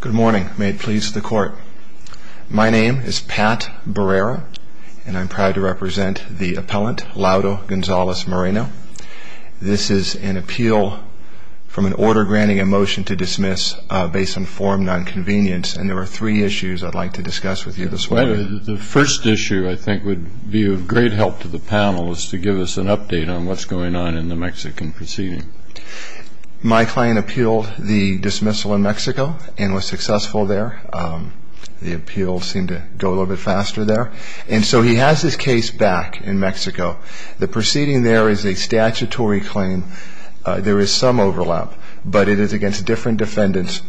Good morning. May it please the Court. My name is Pat Barrera, and I'm proud to represent the appellant, Lauro Gonzalez Moreno. This is an appeal from an order granting a motion to dismiss based on form nonconvenience, and there are three issues I'd like to discuss with you this morning. The first issue I think would be of great help to the panel is to give us an update on what's going on in the Mexican proceeding. My client appealed the dismissal in Mexico and was successful there. The appeals seemed to go a little bit faster there, and so he has his case back in Mexico. The proceeding there is a statutory claim. There is some overlap, but it is against different defendants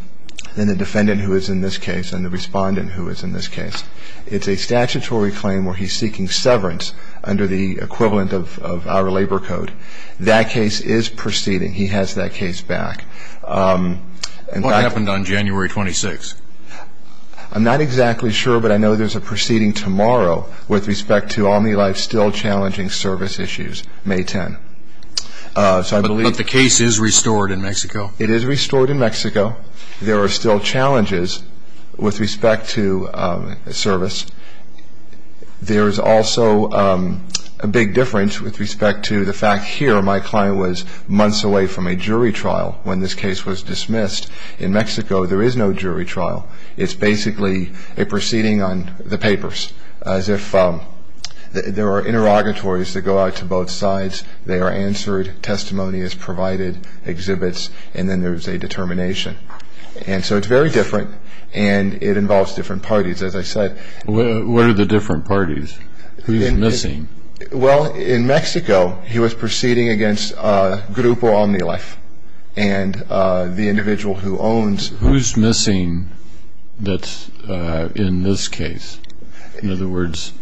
than the defendant who is in this case and the respondent who is in this case. It's a statutory claim where he's seeking severance under the equivalent of our labor code. That case is proceeding. He has that case back. What happened on January 26th? I'm not exactly sure, but I know there's a proceeding tomorrow with respect to Omnilife still challenging service issues, May 10th. But the case is restored in Mexico? It is restored in Mexico. There are still challenges with respect to service. There's also a big difference with respect to the fact here my client was months away from a jury trial when this case was dismissed. In Mexico, there is no jury trial. It's basically a proceeding on the papers as if there are interrogatories that go out to both sides. They are answered. Testimony is provided, exhibits, and then there's a determination. And so it's very different, and it involves different parties. What are the different parties? Who's missing? Well, in Mexico, he was proceeding against Grupo Omnilife and the individual who owns. Who's missing that's in this case? In other words,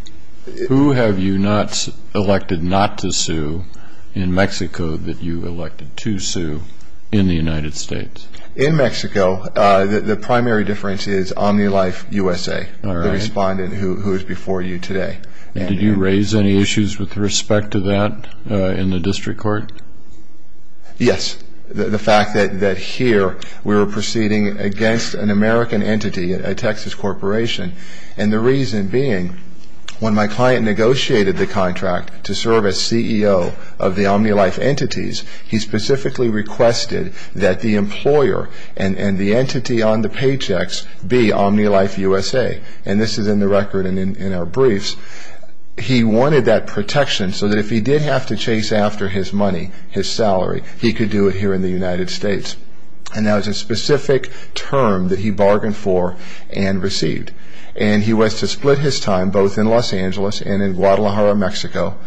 who have you not elected not to sue in Mexico that you elected to sue in the United States? In Mexico, the primary difference is Omnilife USA, the respondent who is before you today. Did you raise any issues with respect to that in the district court? Yes. The fact that here we were proceeding against an American entity, a Texas corporation, and the reason being when my client negotiated the contract to serve as CEO of the Omnilife entities, he specifically requested that the employer and the entity on the paychecks be Omnilife USA. And this is in the record and in our briefs. He wanted that protection so that if he did have to chase after his money, his salary, he could do it here in the United States. And that was a specific term that he bargained for and received. And he was to split his time both in Los Angeles and in Guadalajara, Mexico.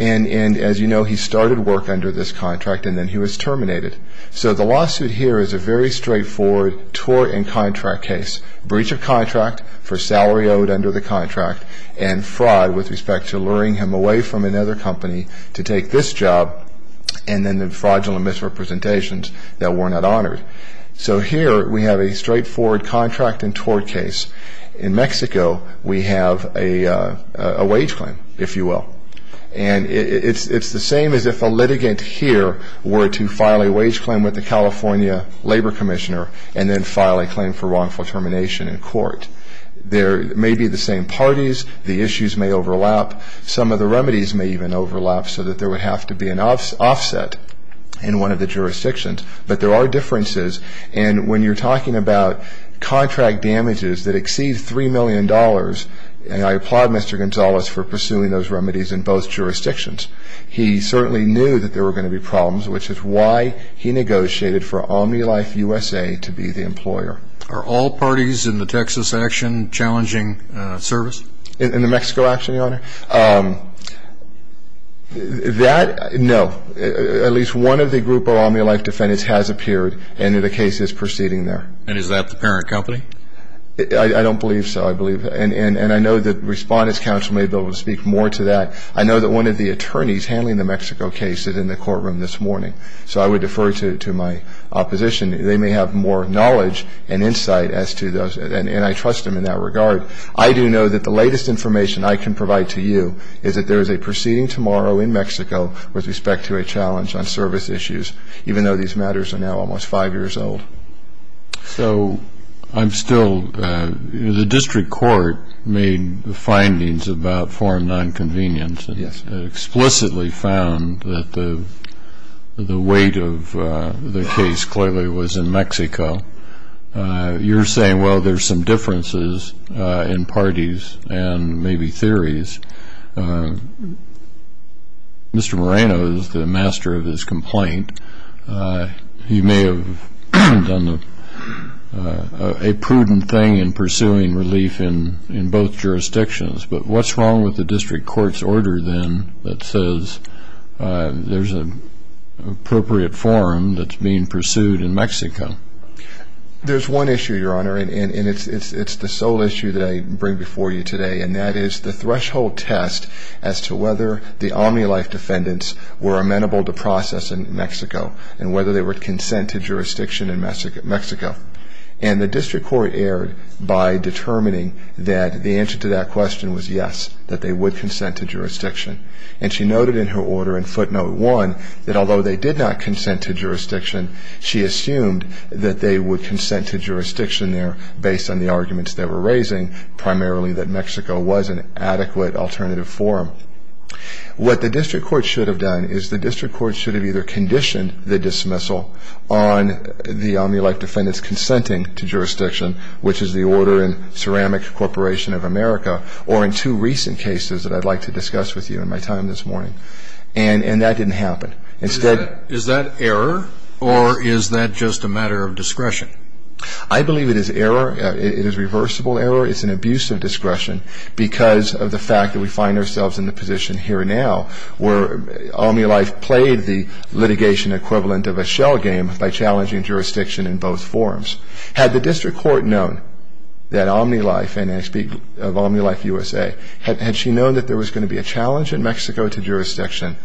And as you know, he started work under this contract and then he was terminated. So the lawsuit here is a very straightforward tort and contract case. Breach of contract for salary owed under the contract and fraud with respect to luring him away from another company to take this job and then the fraudulent misrepresentations that were not honored. So here we have a straightforward contract and tort case. In Mexico, we have a wage claim, if you will. And it's the same as if a litigant here were to file a wage claim with the California Labor Commissioner and then file a claim for wrongful termination in court. There may be the same parties. The issues may overlap. Some of the remedies may even overlap so that there would have to be an offset in one of the jurisdictions. But there are differences. And when you're talking about contract damages that exceed $3 million, and I applaud Mr. Gonzalez for pursuing those remedies in both jurisdictions, he certainly knew that there were going to be problems, which is why he negotiated for OmniLifeUSA to be the employer. Are all parties in the Texas action challenging service? In the Mexico action, Your Honor? That, no. At least one of the group of OmniLife defendants has appeared and the case is proceeding there. And is that the parent company? I don't believe so, I believe. And I know that Respondent's Counsel may be able to speak more to that. I know that one of the attorneys handling the Mexico case is in the courtroom this morning, so I would defer to my opposition. They may have more knowledge and insight as to those, and I trust them in that regard. But I do know that the latest information I can provide to you is that there is a proceeding tomorrow in Mexico with respect to a challenge on service issues, even though these matters are now almost five years old. So I'm still, the district court made findings about foreign nonconvenience and explicitly found that the weight of the case clearly was in Mexico. You're saying, well, there's some differences in parties and maybe theories. Mr. Moreno is the master of his complaint. He may have done a prudent thing in pursuing relief in both jurisdictions. But what's wrong with the district court's order, then, that says there's an appropriate forum that's being pursued in Mexico? There's one issue, Your Honor, and it's the sole issue that I bring before you today, and that is the threshold test as to whether the OmniLife defendants were amenable to process in Mexico and whether they would consent to jurisdiction in Mexico. And the district court erred by determining that the answer to that question was yes, that they would consent to jurisdiction. And she noted in her order in footnote one that although they did not consent to jurisdiction, she assumed that they would consent to jurisdiction there based on the arguments they were raising, primarily that Mexico was an adequate alternative forum. What the district court should have done is the district court should have either conditioned the dismissal which is the order in Ceramic Corporation of America, or in two recent cases that I'd like to discuss with you in my time this morning. And that didn't happen. Is that error, or is that just a matter of discretion? I believe it is error. It is reversible error. It's an abuse of discretion because of the fact that we find ourselves in the position here now where OmniLife played the litigation equivalent of a shell game by challenging jurisdiction in both forums. Had the district court known that OmniLife, and I speak of OmniLife USA, had she known that there was going to be a challenge in Mexico to jurisdiction,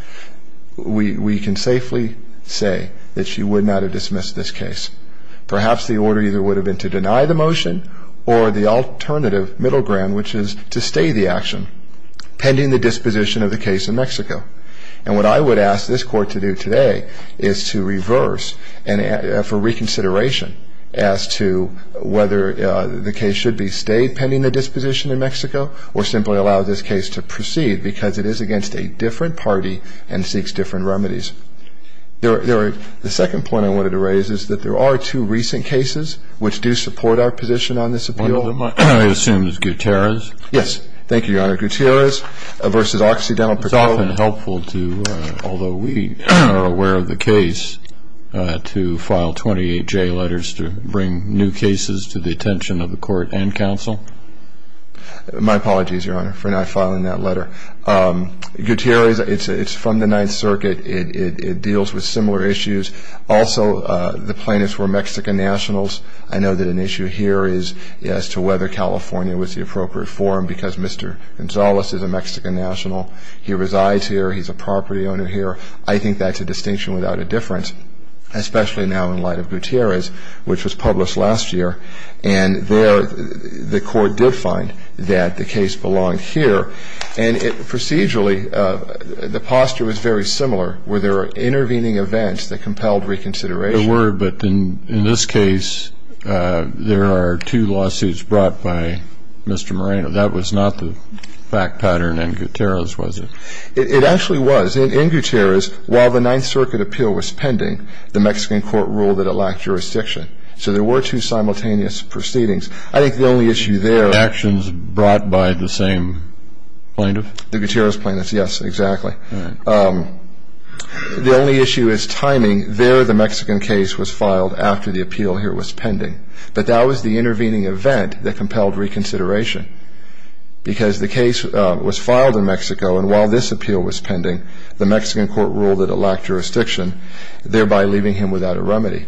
we can safely say that she would not have dismissed this case. Perhaps the order either would have been to deny the motion or the alternative middle ground, which is to stay the action pending the disposition of the case in Mexico. And what I would ask this court to do today is to reverse and for reconsideration as to whether the case should be stayed pending the disposition in Mexico or simply allow this case to proceed because it is against a different party and seeks different remedies. The second point I wanted to raise is that there are two recent cases which do support our position on this appeal. One of them I assume is Gutierrez. Yes. Thank you, Your Honor. Mr. Gutierrez versus Occidental. It's often helpful to, although we are aware of the case, to file 28J letters to bring new cases to the attention of the court and counsel. My apologies, Your Honor, for not filing that letter. Gutierrez, it's from the Ninth Circuit. It deals with similar issues. Also, the plaintiffs were Mexican nationals. I know that an issue here is as to whether California was the appropriate forum because Mr. Gonzalez is a Mexican national. He resides here. He's a property owner here. I think that's a distinction without a difference, especially now in light of Gutierrez, which was published last year, and there the court did find that the case belonged here. And procedurally, the posture was very similar. Were there intervening events that compelled reconsideration? There were, but in this case, there are two lawsuits brought by Mr. Moreno. That was not the fact pattern in Gutierrez, was it? It actually was. In Gutierrez, while the Ninth Circuit appeal was pending, the Mexican court ruled that it lacked jurisdiction. So there were two simultaneous proceedings. I think the only issue there was actions brought by the same plaintiff. The Gutierrez plaintiffs, yes, exactly. All right. The only issue is timing. There, the Mexican case was filed after the appeal here was pending. But that was the intervening event that compelled reconsideration because the case was filed in Mexico, and while this appeal was pending, the Mexican court ruled that it lacked jurisdiction, thereby leaving him without a remedy.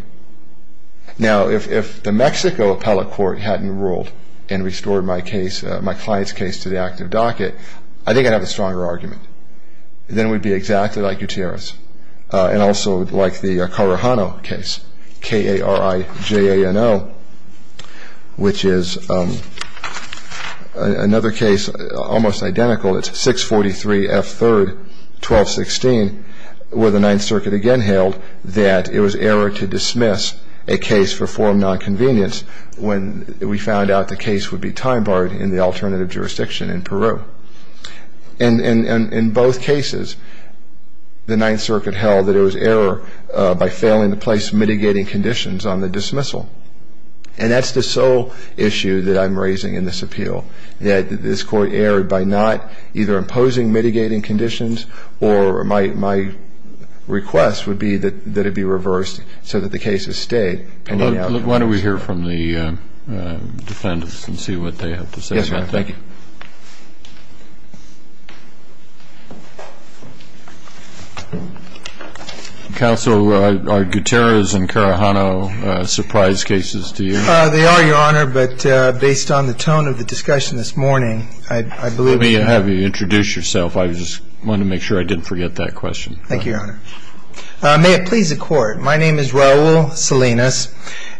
Now, if the Mexico appellate court hadn't ruled and restored my client's case to the active docket, I think I'd have a stronger argument. Then we'd be exactly like Gutierrez and also like the Carajano case, K-A-R-I-J-A-N-O, which is another case, almost identical. It's 643 F. 3rd, 1216, where the Ninth Circuit again hailed that it was error to dismiss a case for foreign nonconvenience when we found out the case would be time-barred in the alternative jurisdiction in Peru. And in both cases, the Ninth Circuit held that it was error by failing to place mitigating conditions on the dismissal. And that's the sole issue that I'm raising in this appeal, that this Court erred by not either imposing mitigating conditions or my request would be that it be reversed so that the cases stay pending. Why don't we hear from the defendants and see what they have to say. Yes, Your Honor. Thank you. Counsel, are Gutierrez and Carajano surprise cases to you? They are, Your Honor, but based on the tone of the discussion this morning, I believe it is. Let me have you introduce yourself. I just wanted to make sure I didn't forget that question. Thank you, Your Honor. May it please the Court, my name is Raul Salinas,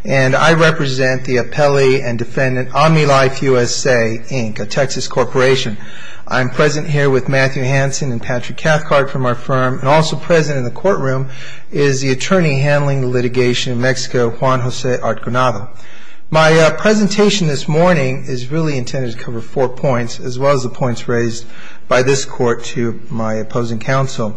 and I represent the appellee and defendant Omnilife USA, Inc., a Texas corporation. I'm present here with Matthew Hansen and Patrick Cathcart from our firm, and also present in the courtroom is the attorney handling the litigation in Mexico, Juan Jose Artgenado. My presentation this morning is really intended to cover four points, as well as the points raised by this Court to my opposing counsel.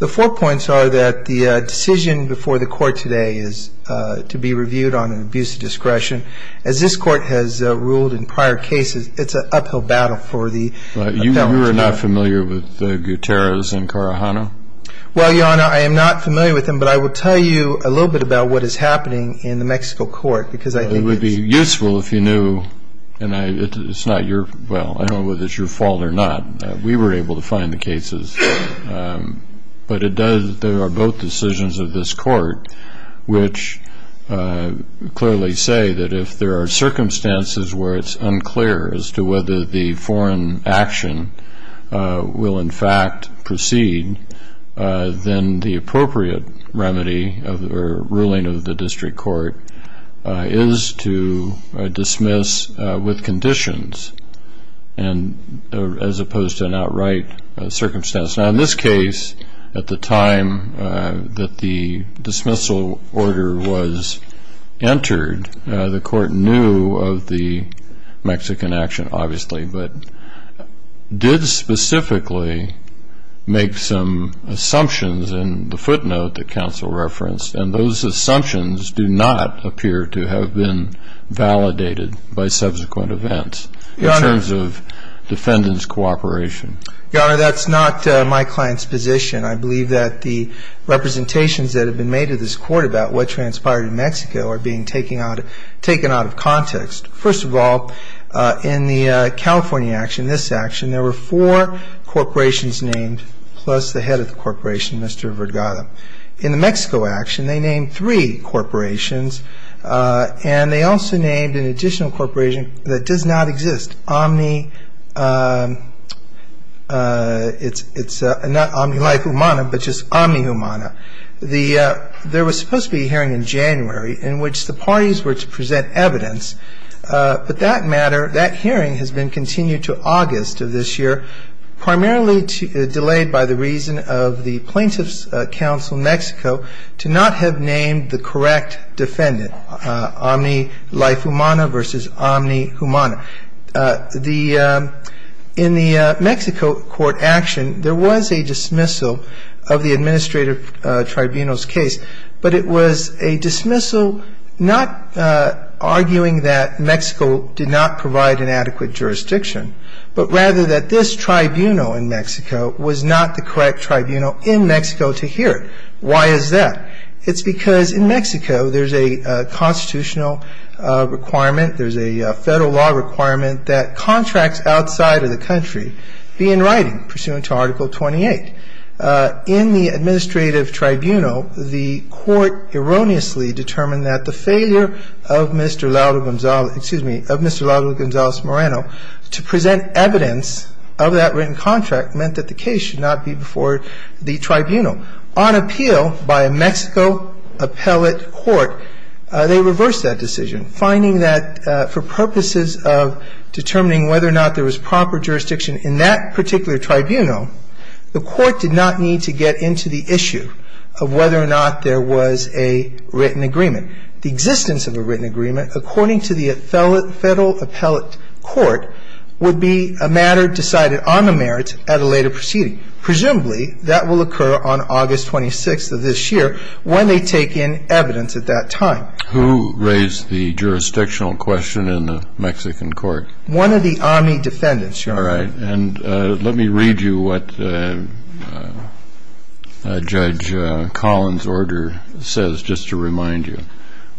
The four points are that the decision before the Court today is to be reviewed on an abuse of discretion. As this Court has ruled in prior cases, it's an uphill battle for the defendant. You are not familiar with Gutierrez and Carajano? Well, Your Honor, I am not familiar with them, but I will tell you a little bit about what is happening in the Mexico Court because I think it's – It would be useful if you knew, and it's not your – well, I don't know whether it's your fault or not. We were able to find the cases. But it does – there are both decisions of this Court which clearly say that if there are circumstances where it's unclear as to whether the foreign action will in fact proceed, then the appropriate remedy or ruling of the district court is to dismiss with conditions, as opposed to an outright circumstance. Now, in this case, at the time that the dismissal order was entered, the Court knew of the Mexican action, obviously, but did specifically make some assumptions in the footnote that counsel referenced, and those assumptions do not appear to have been validated by subsequent events in terms of defendant's cooperation. Your Honor, that's not my client's position. I believe that the representations that have been made to this Court about what transpired in Mexico are being taken out of context. First of all, in the California action, this action, there were four corporations named plus the head of the corporation, Mr. Vergara. In the Mexico action, they named three corporations, and they also named an additional corporation that does not exist, Omni – it's not Omni Life Humana, but just Omni Humana. There was supposed to be a hearing in January in which the parties were to present evidence, but that matter, that hearing has been continued to August of this year, primarily delayed by the reason of the plaintiff's counsel, Mexico, to not have named the correct defendant, Omni Life Humana versus Omni Humana. In the Mexico court action, there was a dismissal of the administrative tribunal's case, but it was a dismissal not arguing that Mexico did not provide an adequate jurisdiction, but rather that this tribunal in Mexico was not the correct tribunal in Mexico to hear it. Why is that? It's because in Mexico there's a constitutional requirement, there's a federal law requirement that contracts outside of the country be in writing, pursuant to Article 28. In the administrative tribunal, the court erroneously determined that the failure of Mr. Moreno to present evidence of that written contract meant that the case should not be before the tribunal. On appeal by a Mexico appellate court, they reversed that decision, finding that for purposes of determining whether or not there was proper jurisdiction in that particular tribunal, the court did not need to get into the issue of whether or not there was a written agreement. The existence of a written agreement, according to the federal appellate court, would be a matter decided on the merits at a later proceeding. Presumably, that will occur on August 26th of this year when they take in evidence at that time. Who raised the jurisdictional question in the Mexican court? All right. And let me read you what Judge Collins' order says, just to remind you.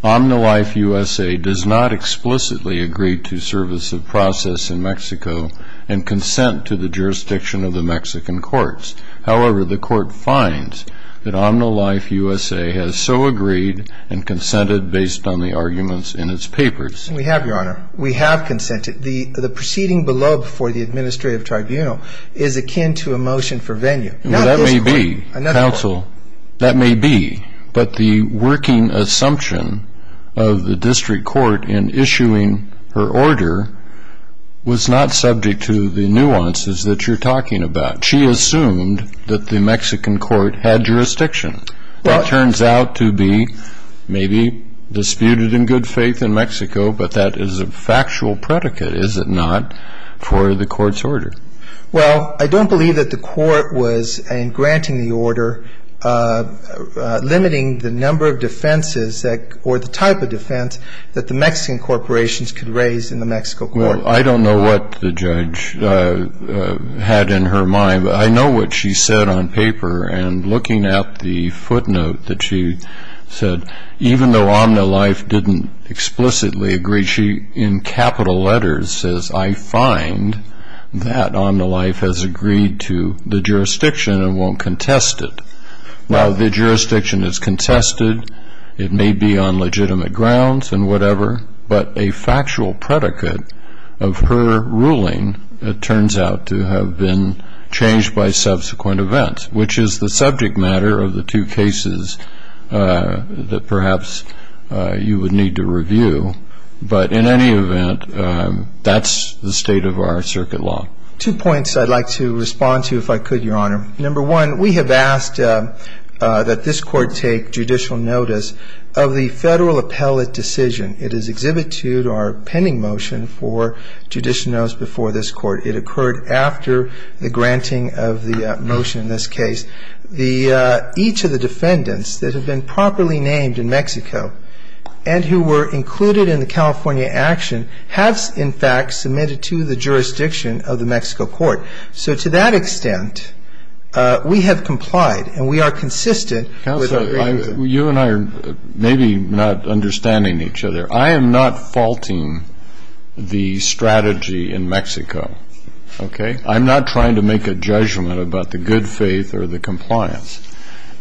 Omnilife USA does not explicitly agree to service of process in Mexico and consent to the jurisdiction of the Mexican courts. However, the court finds that Omnilife USA has so agreed and consented based on the arguments in its papers. We have, Your Honor. We have consented. The proceeding below for the administrative tribunal is akin to a motion for venue. Well, that may be, counsel. That may be. But the working assumption of the district court in issuing her order was not subject to the nuances that you're talking about. She assumed that the Mexican court had jurisdiction. Well, I don't believe that the court was, in granting the order, limiting the number of defenses or the type of defense that the Mexican corporations could raise in the Mexico court. Well, I don't know what the judge had in her mind, but I know what she said on paper. And looking at the footnote that she said, even though Omnilife didn't explicitly agree, she in capital letters says, I find that Omnilife has agreed to the jurisdiction and won't contest it. Now, the jurisdiction is contested. It may be on legitimate grounds and whatever, but a factual predicate of her ruling turns out to have been changed by subsequent events, which is the subject matter of the two cases that perhaps you would need to review. But in any event, that's the state of our circuit law. Two points I'd like to respond to, if I could, Your Honor. Number one, we have asked that this court take judicial notice of the federal appellate decision. It is exhibit two to our pending motion for judicial notice before this court. It occurred after the granting of the motion in this case. Each of the defendants that have been properly named in Mexico and who were included in the California action have, in fact, submitted to the jurisdiction of the Mexico court. So to that extent, we have complied and we are consistent with the agreement. Counselor, you and I are maybe not understanding each other. I am not faulting the strategy in Mexico. I'm not trying to make a judgment about the good faith or the compliance.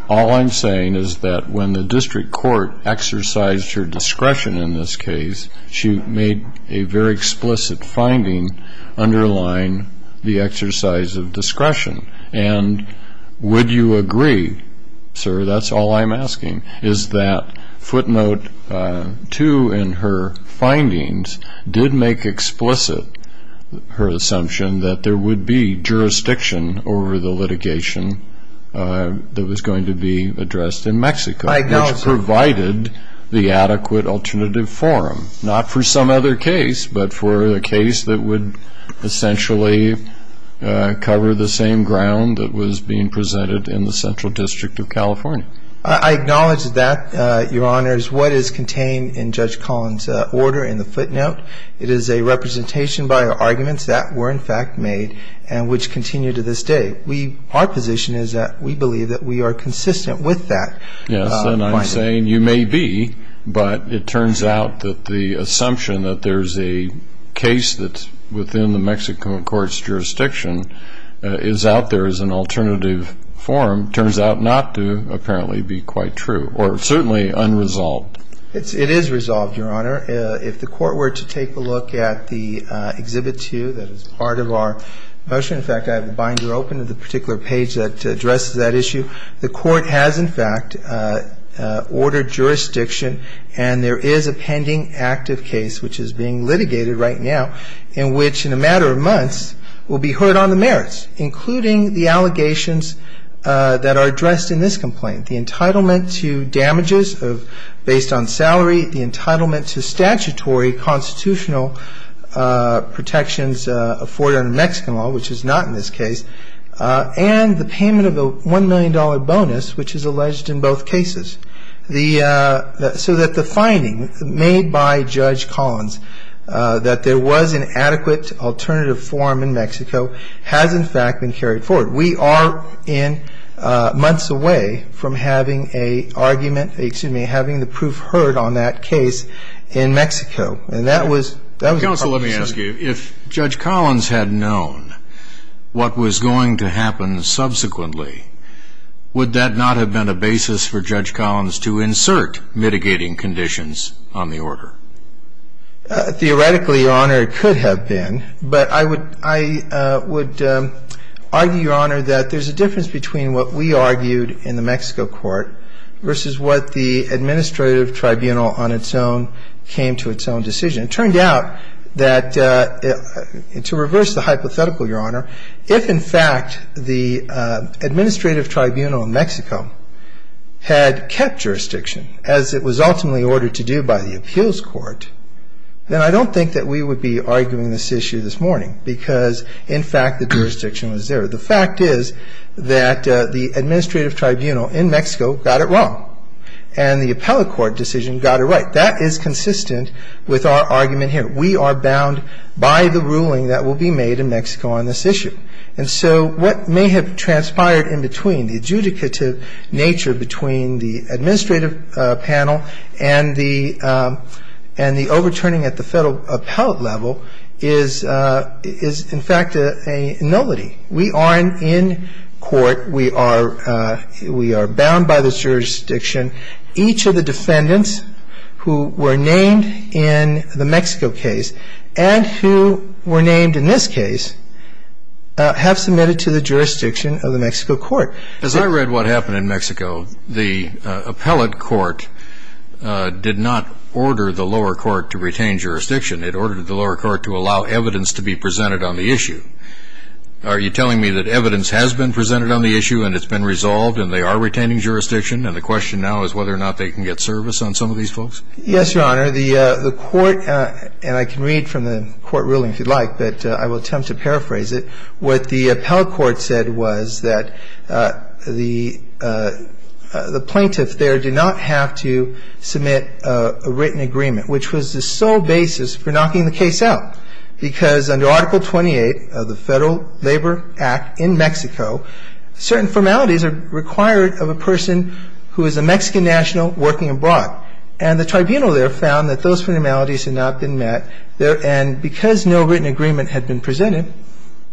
All I'm saying is that when the district court exercised her discretion in this case, she made a very explicit finding underlying the exercise of discretion. And would you agree, sir, that's all I'm asking, is that footnote two in her findings did make explicit her assumption that there would be jurisdiction over the litigation that was going to be addressed in Mexico, which provided the adequate alternative forum, not for some other case, but for a case that would essentially cover the same ground that was being presented in the Central District of California? I acknowledge that, Your Honors. What is contained in Judge Collins' order in the footnote, it is a representation by her arguments that were, in fact, made and which continue to this day. Our position is that we believe that we are consistent with that finding. Yes, and I'm saying you may be, but it turns out that the assumption that there's a case that's within the Mexico court's jurisdiction is out there as an alternative forum turns out not to, apparently, be quite true or certainly unresolved. It is resolved, Your Honor. If the Court were to take a look at the Exhibit 2 that is part of our motion, in fact, I have a binder open to the particular page that addresses that issue. The Court has, in fact, ordered jurisdiction, and there is a pending active case, which is being litigated right now, in which in a matter of months will be heard on the merits, including the allegations that are addressed in this complaint, the entitlement to damages based on salary, the entitlement to statutory constitutional protections afforded under Mexican law, which is not in this case, and the payment of a $1 million bonus, which is alleged in both cases, so that the finding made by Judge Collins that there was an adequate alternative forum in Mexico has, in fact, been carried forward. We are in months away from having a argument, excuse me, having the proof heard on that case in Mexico, and that was a problem. Counsel, let me ask you. If Judge Collins had known what was going to happen subsequently, would that not have been a basis for Judge Collins to insert mitigating conditions on the order? Theoretically, Your Honor, it could have been, but I would argue, Your Honor, that there's a difference between what we argued in the Mexico court versus what the administrative tribunal on its own came to its own decision. It turned out that, to reverse the hypothetical, Your Honor, if, in fact, the administrative tribunal in Mexico had kept jurisdiction, as it was ultimately ordered to do by the appeals court, then I don't think that we would be arguing this issue this morning, because, in fact, the jurisdiction was there. The fact is that the administrative tribunal in Mexico got it wrong, and the appellate court decision got it right. That is consistent with our argument here. We are bound by the ruling that will be made in Mexico on this issue. And so what may have transpired in between, the adjudicative nature between the administrative panel and the overturning at the federal appellate level, is, in fact, a nullity. We aren't in court. We are bound by this jurisdiction. Each of the defendants who were named in the Mexico case and who were named in this case have submitted to the jurisdiction of the Mexico court. As I read what happened in Mexico, the appellate court did not order the lower court to retain jurisdiction. It ordered the lower court to allow evidence to be presented on the issue. Are you telling me that evidence has been presented on the issue and it's been resolved and they are retaining jurisdiction, and the question now is whether or not they can get service on some of these folks? Yes, Your Honor. The court, and I can read from the court ruling if you'd like, but I will attempt to paraphrase it, what the appellate court said was that the plaintiff there did not have to submit a written agreement, which was the sole basis for knocking the case out. Because under Article 28 of the Federal Labor Act in Mexico, certain formalities are required of a person who is a Mexican national working abroad. And the tribunal there found that those formalities had not been met, and because no written agreement had been presented,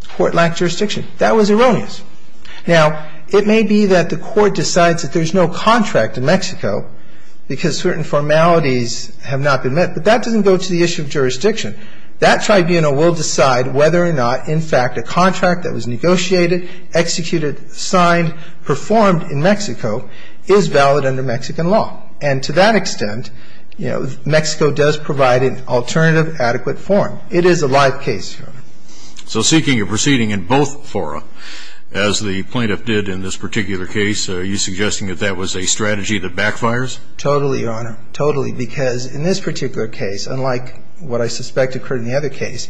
the court lacked jurisdiction. That was erroneous. Now, it may be that the court decides that there's no contract in Mexico because certain formalities have not been met, but that doesn't go to the issue of jurisdiction. That tribunal will decide whether or not, in fact, a contract that was negotiated, executed, signed, performed in Mexico is valid under Mexican law. And to that extent, you know, Mexico does provide an alternative adequate form. It is a live case, Your Honor. So seeking a proceeding in both fora, as the plaintiff did in this particular case, are you suggesting that that was a strategy that backfires? Totally, Your Honor. Totally. Because in this particular case, unlike what I suspect occurred in the other case,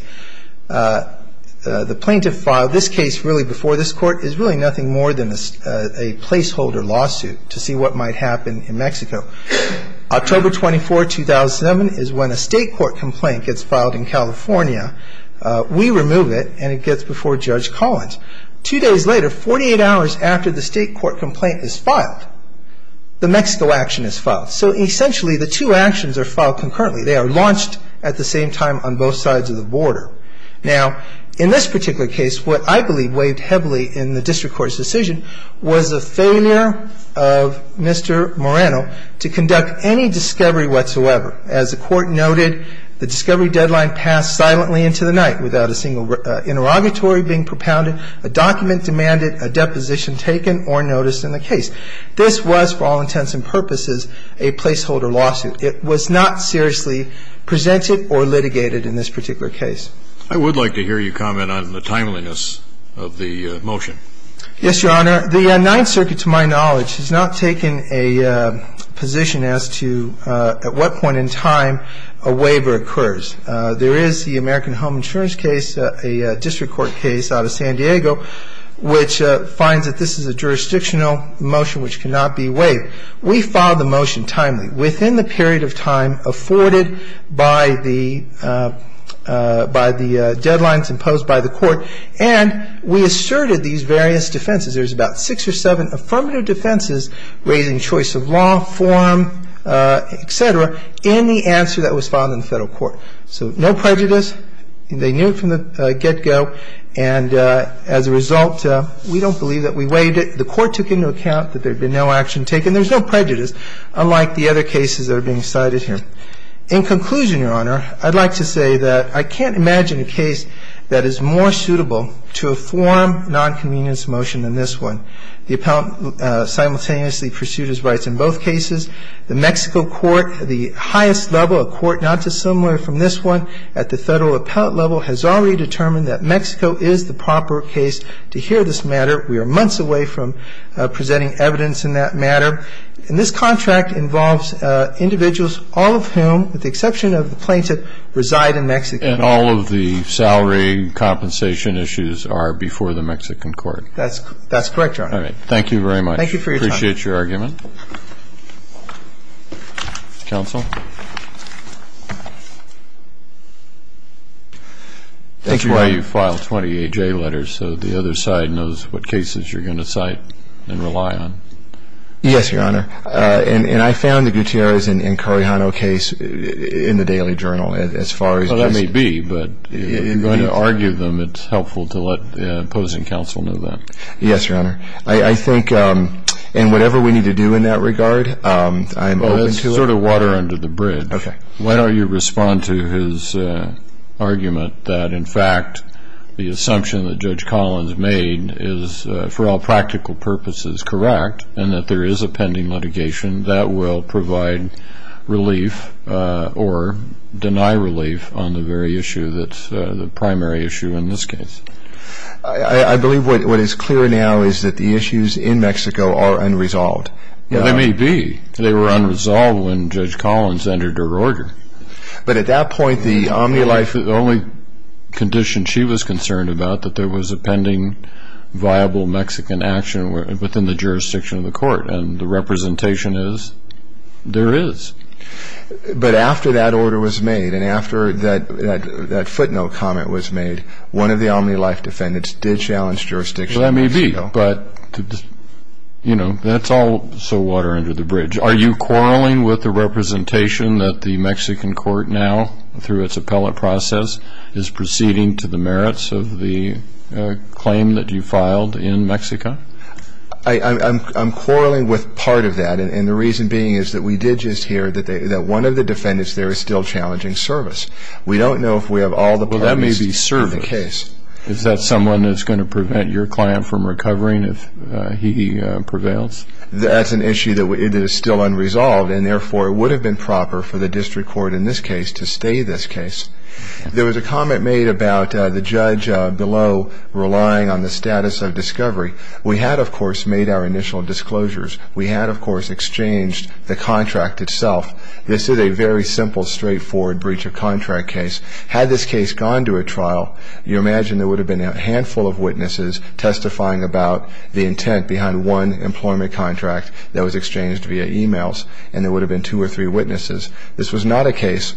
the plaintiff filed this case really before this Court is really nothing more than a placeholder lawsuit to see what might happen in Mexico. October 24, 2007 is when a state court complaint gets filed in California. We remove it, and it gets before Judge Collins. Two days later, 48 hours after the state court complaint is filed, the Mexico action is filed. So essentially, the two actions are filed concurrently. They are launched at the same time on both sides of the border. Now, in this particular case, what I believe weighed heavily in the district court's decision was the failure of Mr. Moreno to conduct any discovery whatsoever. As the Court noted, the discovery deadline passed silently into the night without a single interrogatory being propounded, a document demanded, a deposition taken or noticed in the case. This was, for all intents and purposes, a placeholder lawsuit. It was not seriously presented or litigated in this particular case. I would like to hear you comment on the timeliness of the motion. Yes, Your Honor. The Ninth Circuit, to my knowledge, has not taken a position as to at what point in time a waiver occurs. There is the American Home Insurance case, a district court case out of San Diego, which finds that this is a jurisdictional motion which cannot be waived. We filed the motion timely, within the period of time afforded by the deadlines imposed by the Court, and we asserted these various defenses. There's about six or seven affirmative defenses raising choice of law, form, et cetera, in the answer that was filed in the Federal Court. So no prejudice. They knew it from the get-go, and as a result, we don't believe that we waived it. The Court took into account that there had been no action taken. There's no prejudice, unlike the other cases that are being cited here. In conclusion, Your Honor, I'd like to say that I can't imagine a case that is more suitable to a form non-convenience motion than this one. The appellant simultaneously pursued his rights in both cases. The Mexico court, the highest level, a court not dissimilar from this one at the Federal appellate level, has already determined that Mexico is the proper case to hear this matter. We are months away from presenting evidence in that matter. And this contract involves individuals, all of whom, with the exception of the plaintiff, reside in Mexico. And all of the salary compensation issues are before the Mexican court. That's correct, Your Honor. All right. Thank you very much. Thank you for your time. Appreciate your argument. Counsel? Thank you, Your Honor. That's why you filed 20 A.J. letters, so the other side knows what cases you're going to cite and rely on. Yes, Your Honor. And I found the Gutierrez and Correjano case in the Daily Journal, as far as just I'm going to argue them it's helpful to let the opposing counsel know that. Yes, Your Honor. I think in whatever we need to do in that regard, I'm open to it. Well, that's sort of water under the bridge. Okay. Why don't you respond to his argument that, in fact, the assumption that Judge Collins made is, for all practical purposes, correct, and that there is a pending litigation that will provide relief or deny relief on the very issue that's the primary issue in this case? I believe what is clear now is that the issues in Mexico are unresolved. They may be. They were unresolved when Judge Collins entered her order. But at that point, the only condition she was concerned about, that there was a pending viable Mexican action within the jurisdiction of the court, and the representation is there is. But after that order was made and after that footnote comment was made, one of the omni-life defendants did challenge jurisdiction. That may be. But, you know, that's also water under the bridge. Are you quarreling with the representation that the Mexican court now, through its appellate process, is proceeding to the merits of the claim that you filed in Mexico? I'm quarreling with part of that, and the reason being is that we did just hear that one of the defendants there is still challenging service. We don't know if we have all the parties to the case. Well, that may be service. Is that someone that's going to prevent your client from recovering if he prevails? That's an issue that is still unresolved, and therefore it would have been proper for the district court in this case to stay this case. There was a comment made about the judge below relying on the status of discovery. We had, of course, made our initial disclosures. We had, of course, exchanged the contract itself. This is a very simple, straightforward breach of contract case. Had this case gone to a trial, you imagine there would have been a handful of witnesses testifying about the intent behind one employment contract that was exchanged via e-mails, and there would have been two or three witnesses. This was not a case,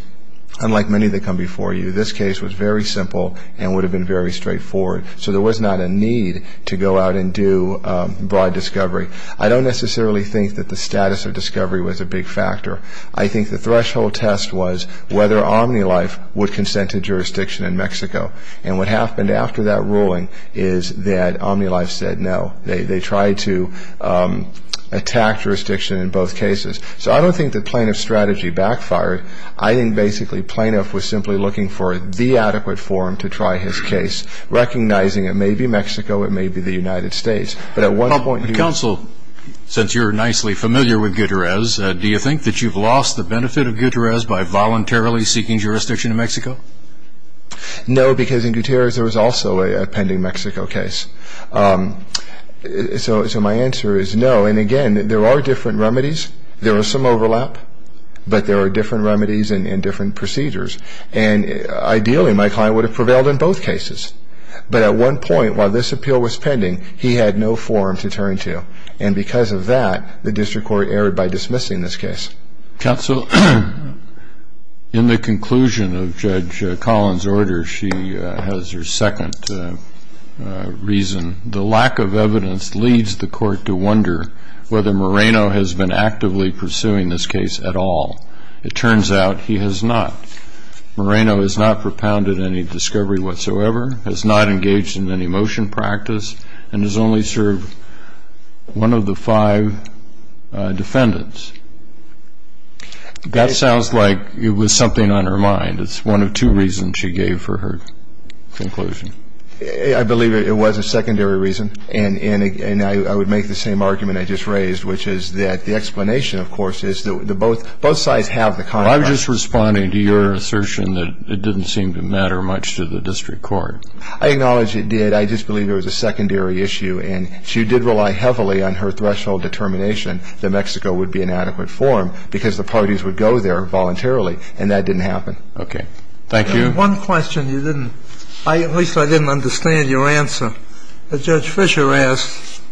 unlike many that come before you, this case was very simple and would have been very straightforward, so there was not a need to go out and do broad discovery. I don't necessarily think that the status of discovery was a big factor. I think the threshold test was whether Omnilife would consent to jurisdiction in Mexico, and what happened after that ruling is that Omnilife said no. They tried to attack jurisdiction in both cases. So I don't think the plaintiff's strategy backfired. I think, basically, plaintiff was simply looking for the adequate forum to try his case, recognizing it may be Mexico, it may be the United States. But at one point he was... Counsel, since you're nicely familiar with Gutierrez, do you think that you've lost the benefit of Gutierrez by voluntarily seeking jurisdiction in Mexico? No, because in Gutierrez there was also a pending Mexico case. So my answer is no. And, again, there are different remedies. There was some overlap, but there are different remedies and different procedures. And, ideally, my client would have prevailed in both cases. But at one point, while this appeal was pending, he had no forum to turn to. And because of that, the district court erred by dismissing this case. Counsel, in the conclusion of Judge Collins' order, she has her second reason. The lack of evidence leads the court to wonder whether Moreno has been actively pursuing this case at all. It turns out he has not. Moreno has not propounded any discovery whatsoever, has not engaged in any motion practice, and has only served one of the five defendants. That sounds like it was something on her mind. It's one of two reasons she gave for her conclusion. I believe it was a secondary reason. And I would make the same argument I just raised, which is that the explanation, of course, is that both sides have the contract. Well, I'm just responding to your assertion that it didn't seem to matter much to the district court. I acknowledge it did. I just believe it was a secondary issue. And she did rely heavily on her threshold determination that Mexico would be an adequate forum because the parties would go there voluntarily. And that didn't happen. Okay. Thank you. One question you didn't, at least I didn't understand your answer. Judge Fisher asked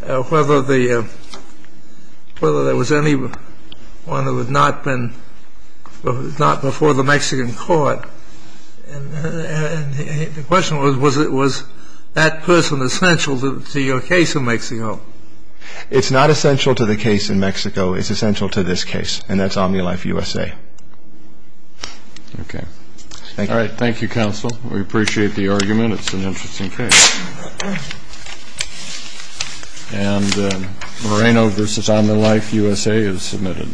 whether there was anyone who had not been, not before the Mexican court. And the question was, was that person essential to your case in Mexico? It's not essential to the case in Mexico. It's essential to this case. And that's OmniLifeUSA. Okay. All right. Thank you, counsel. We appreciate the argument. It's an interesting case. And Moreno v. OmniLifeUSA is submitted.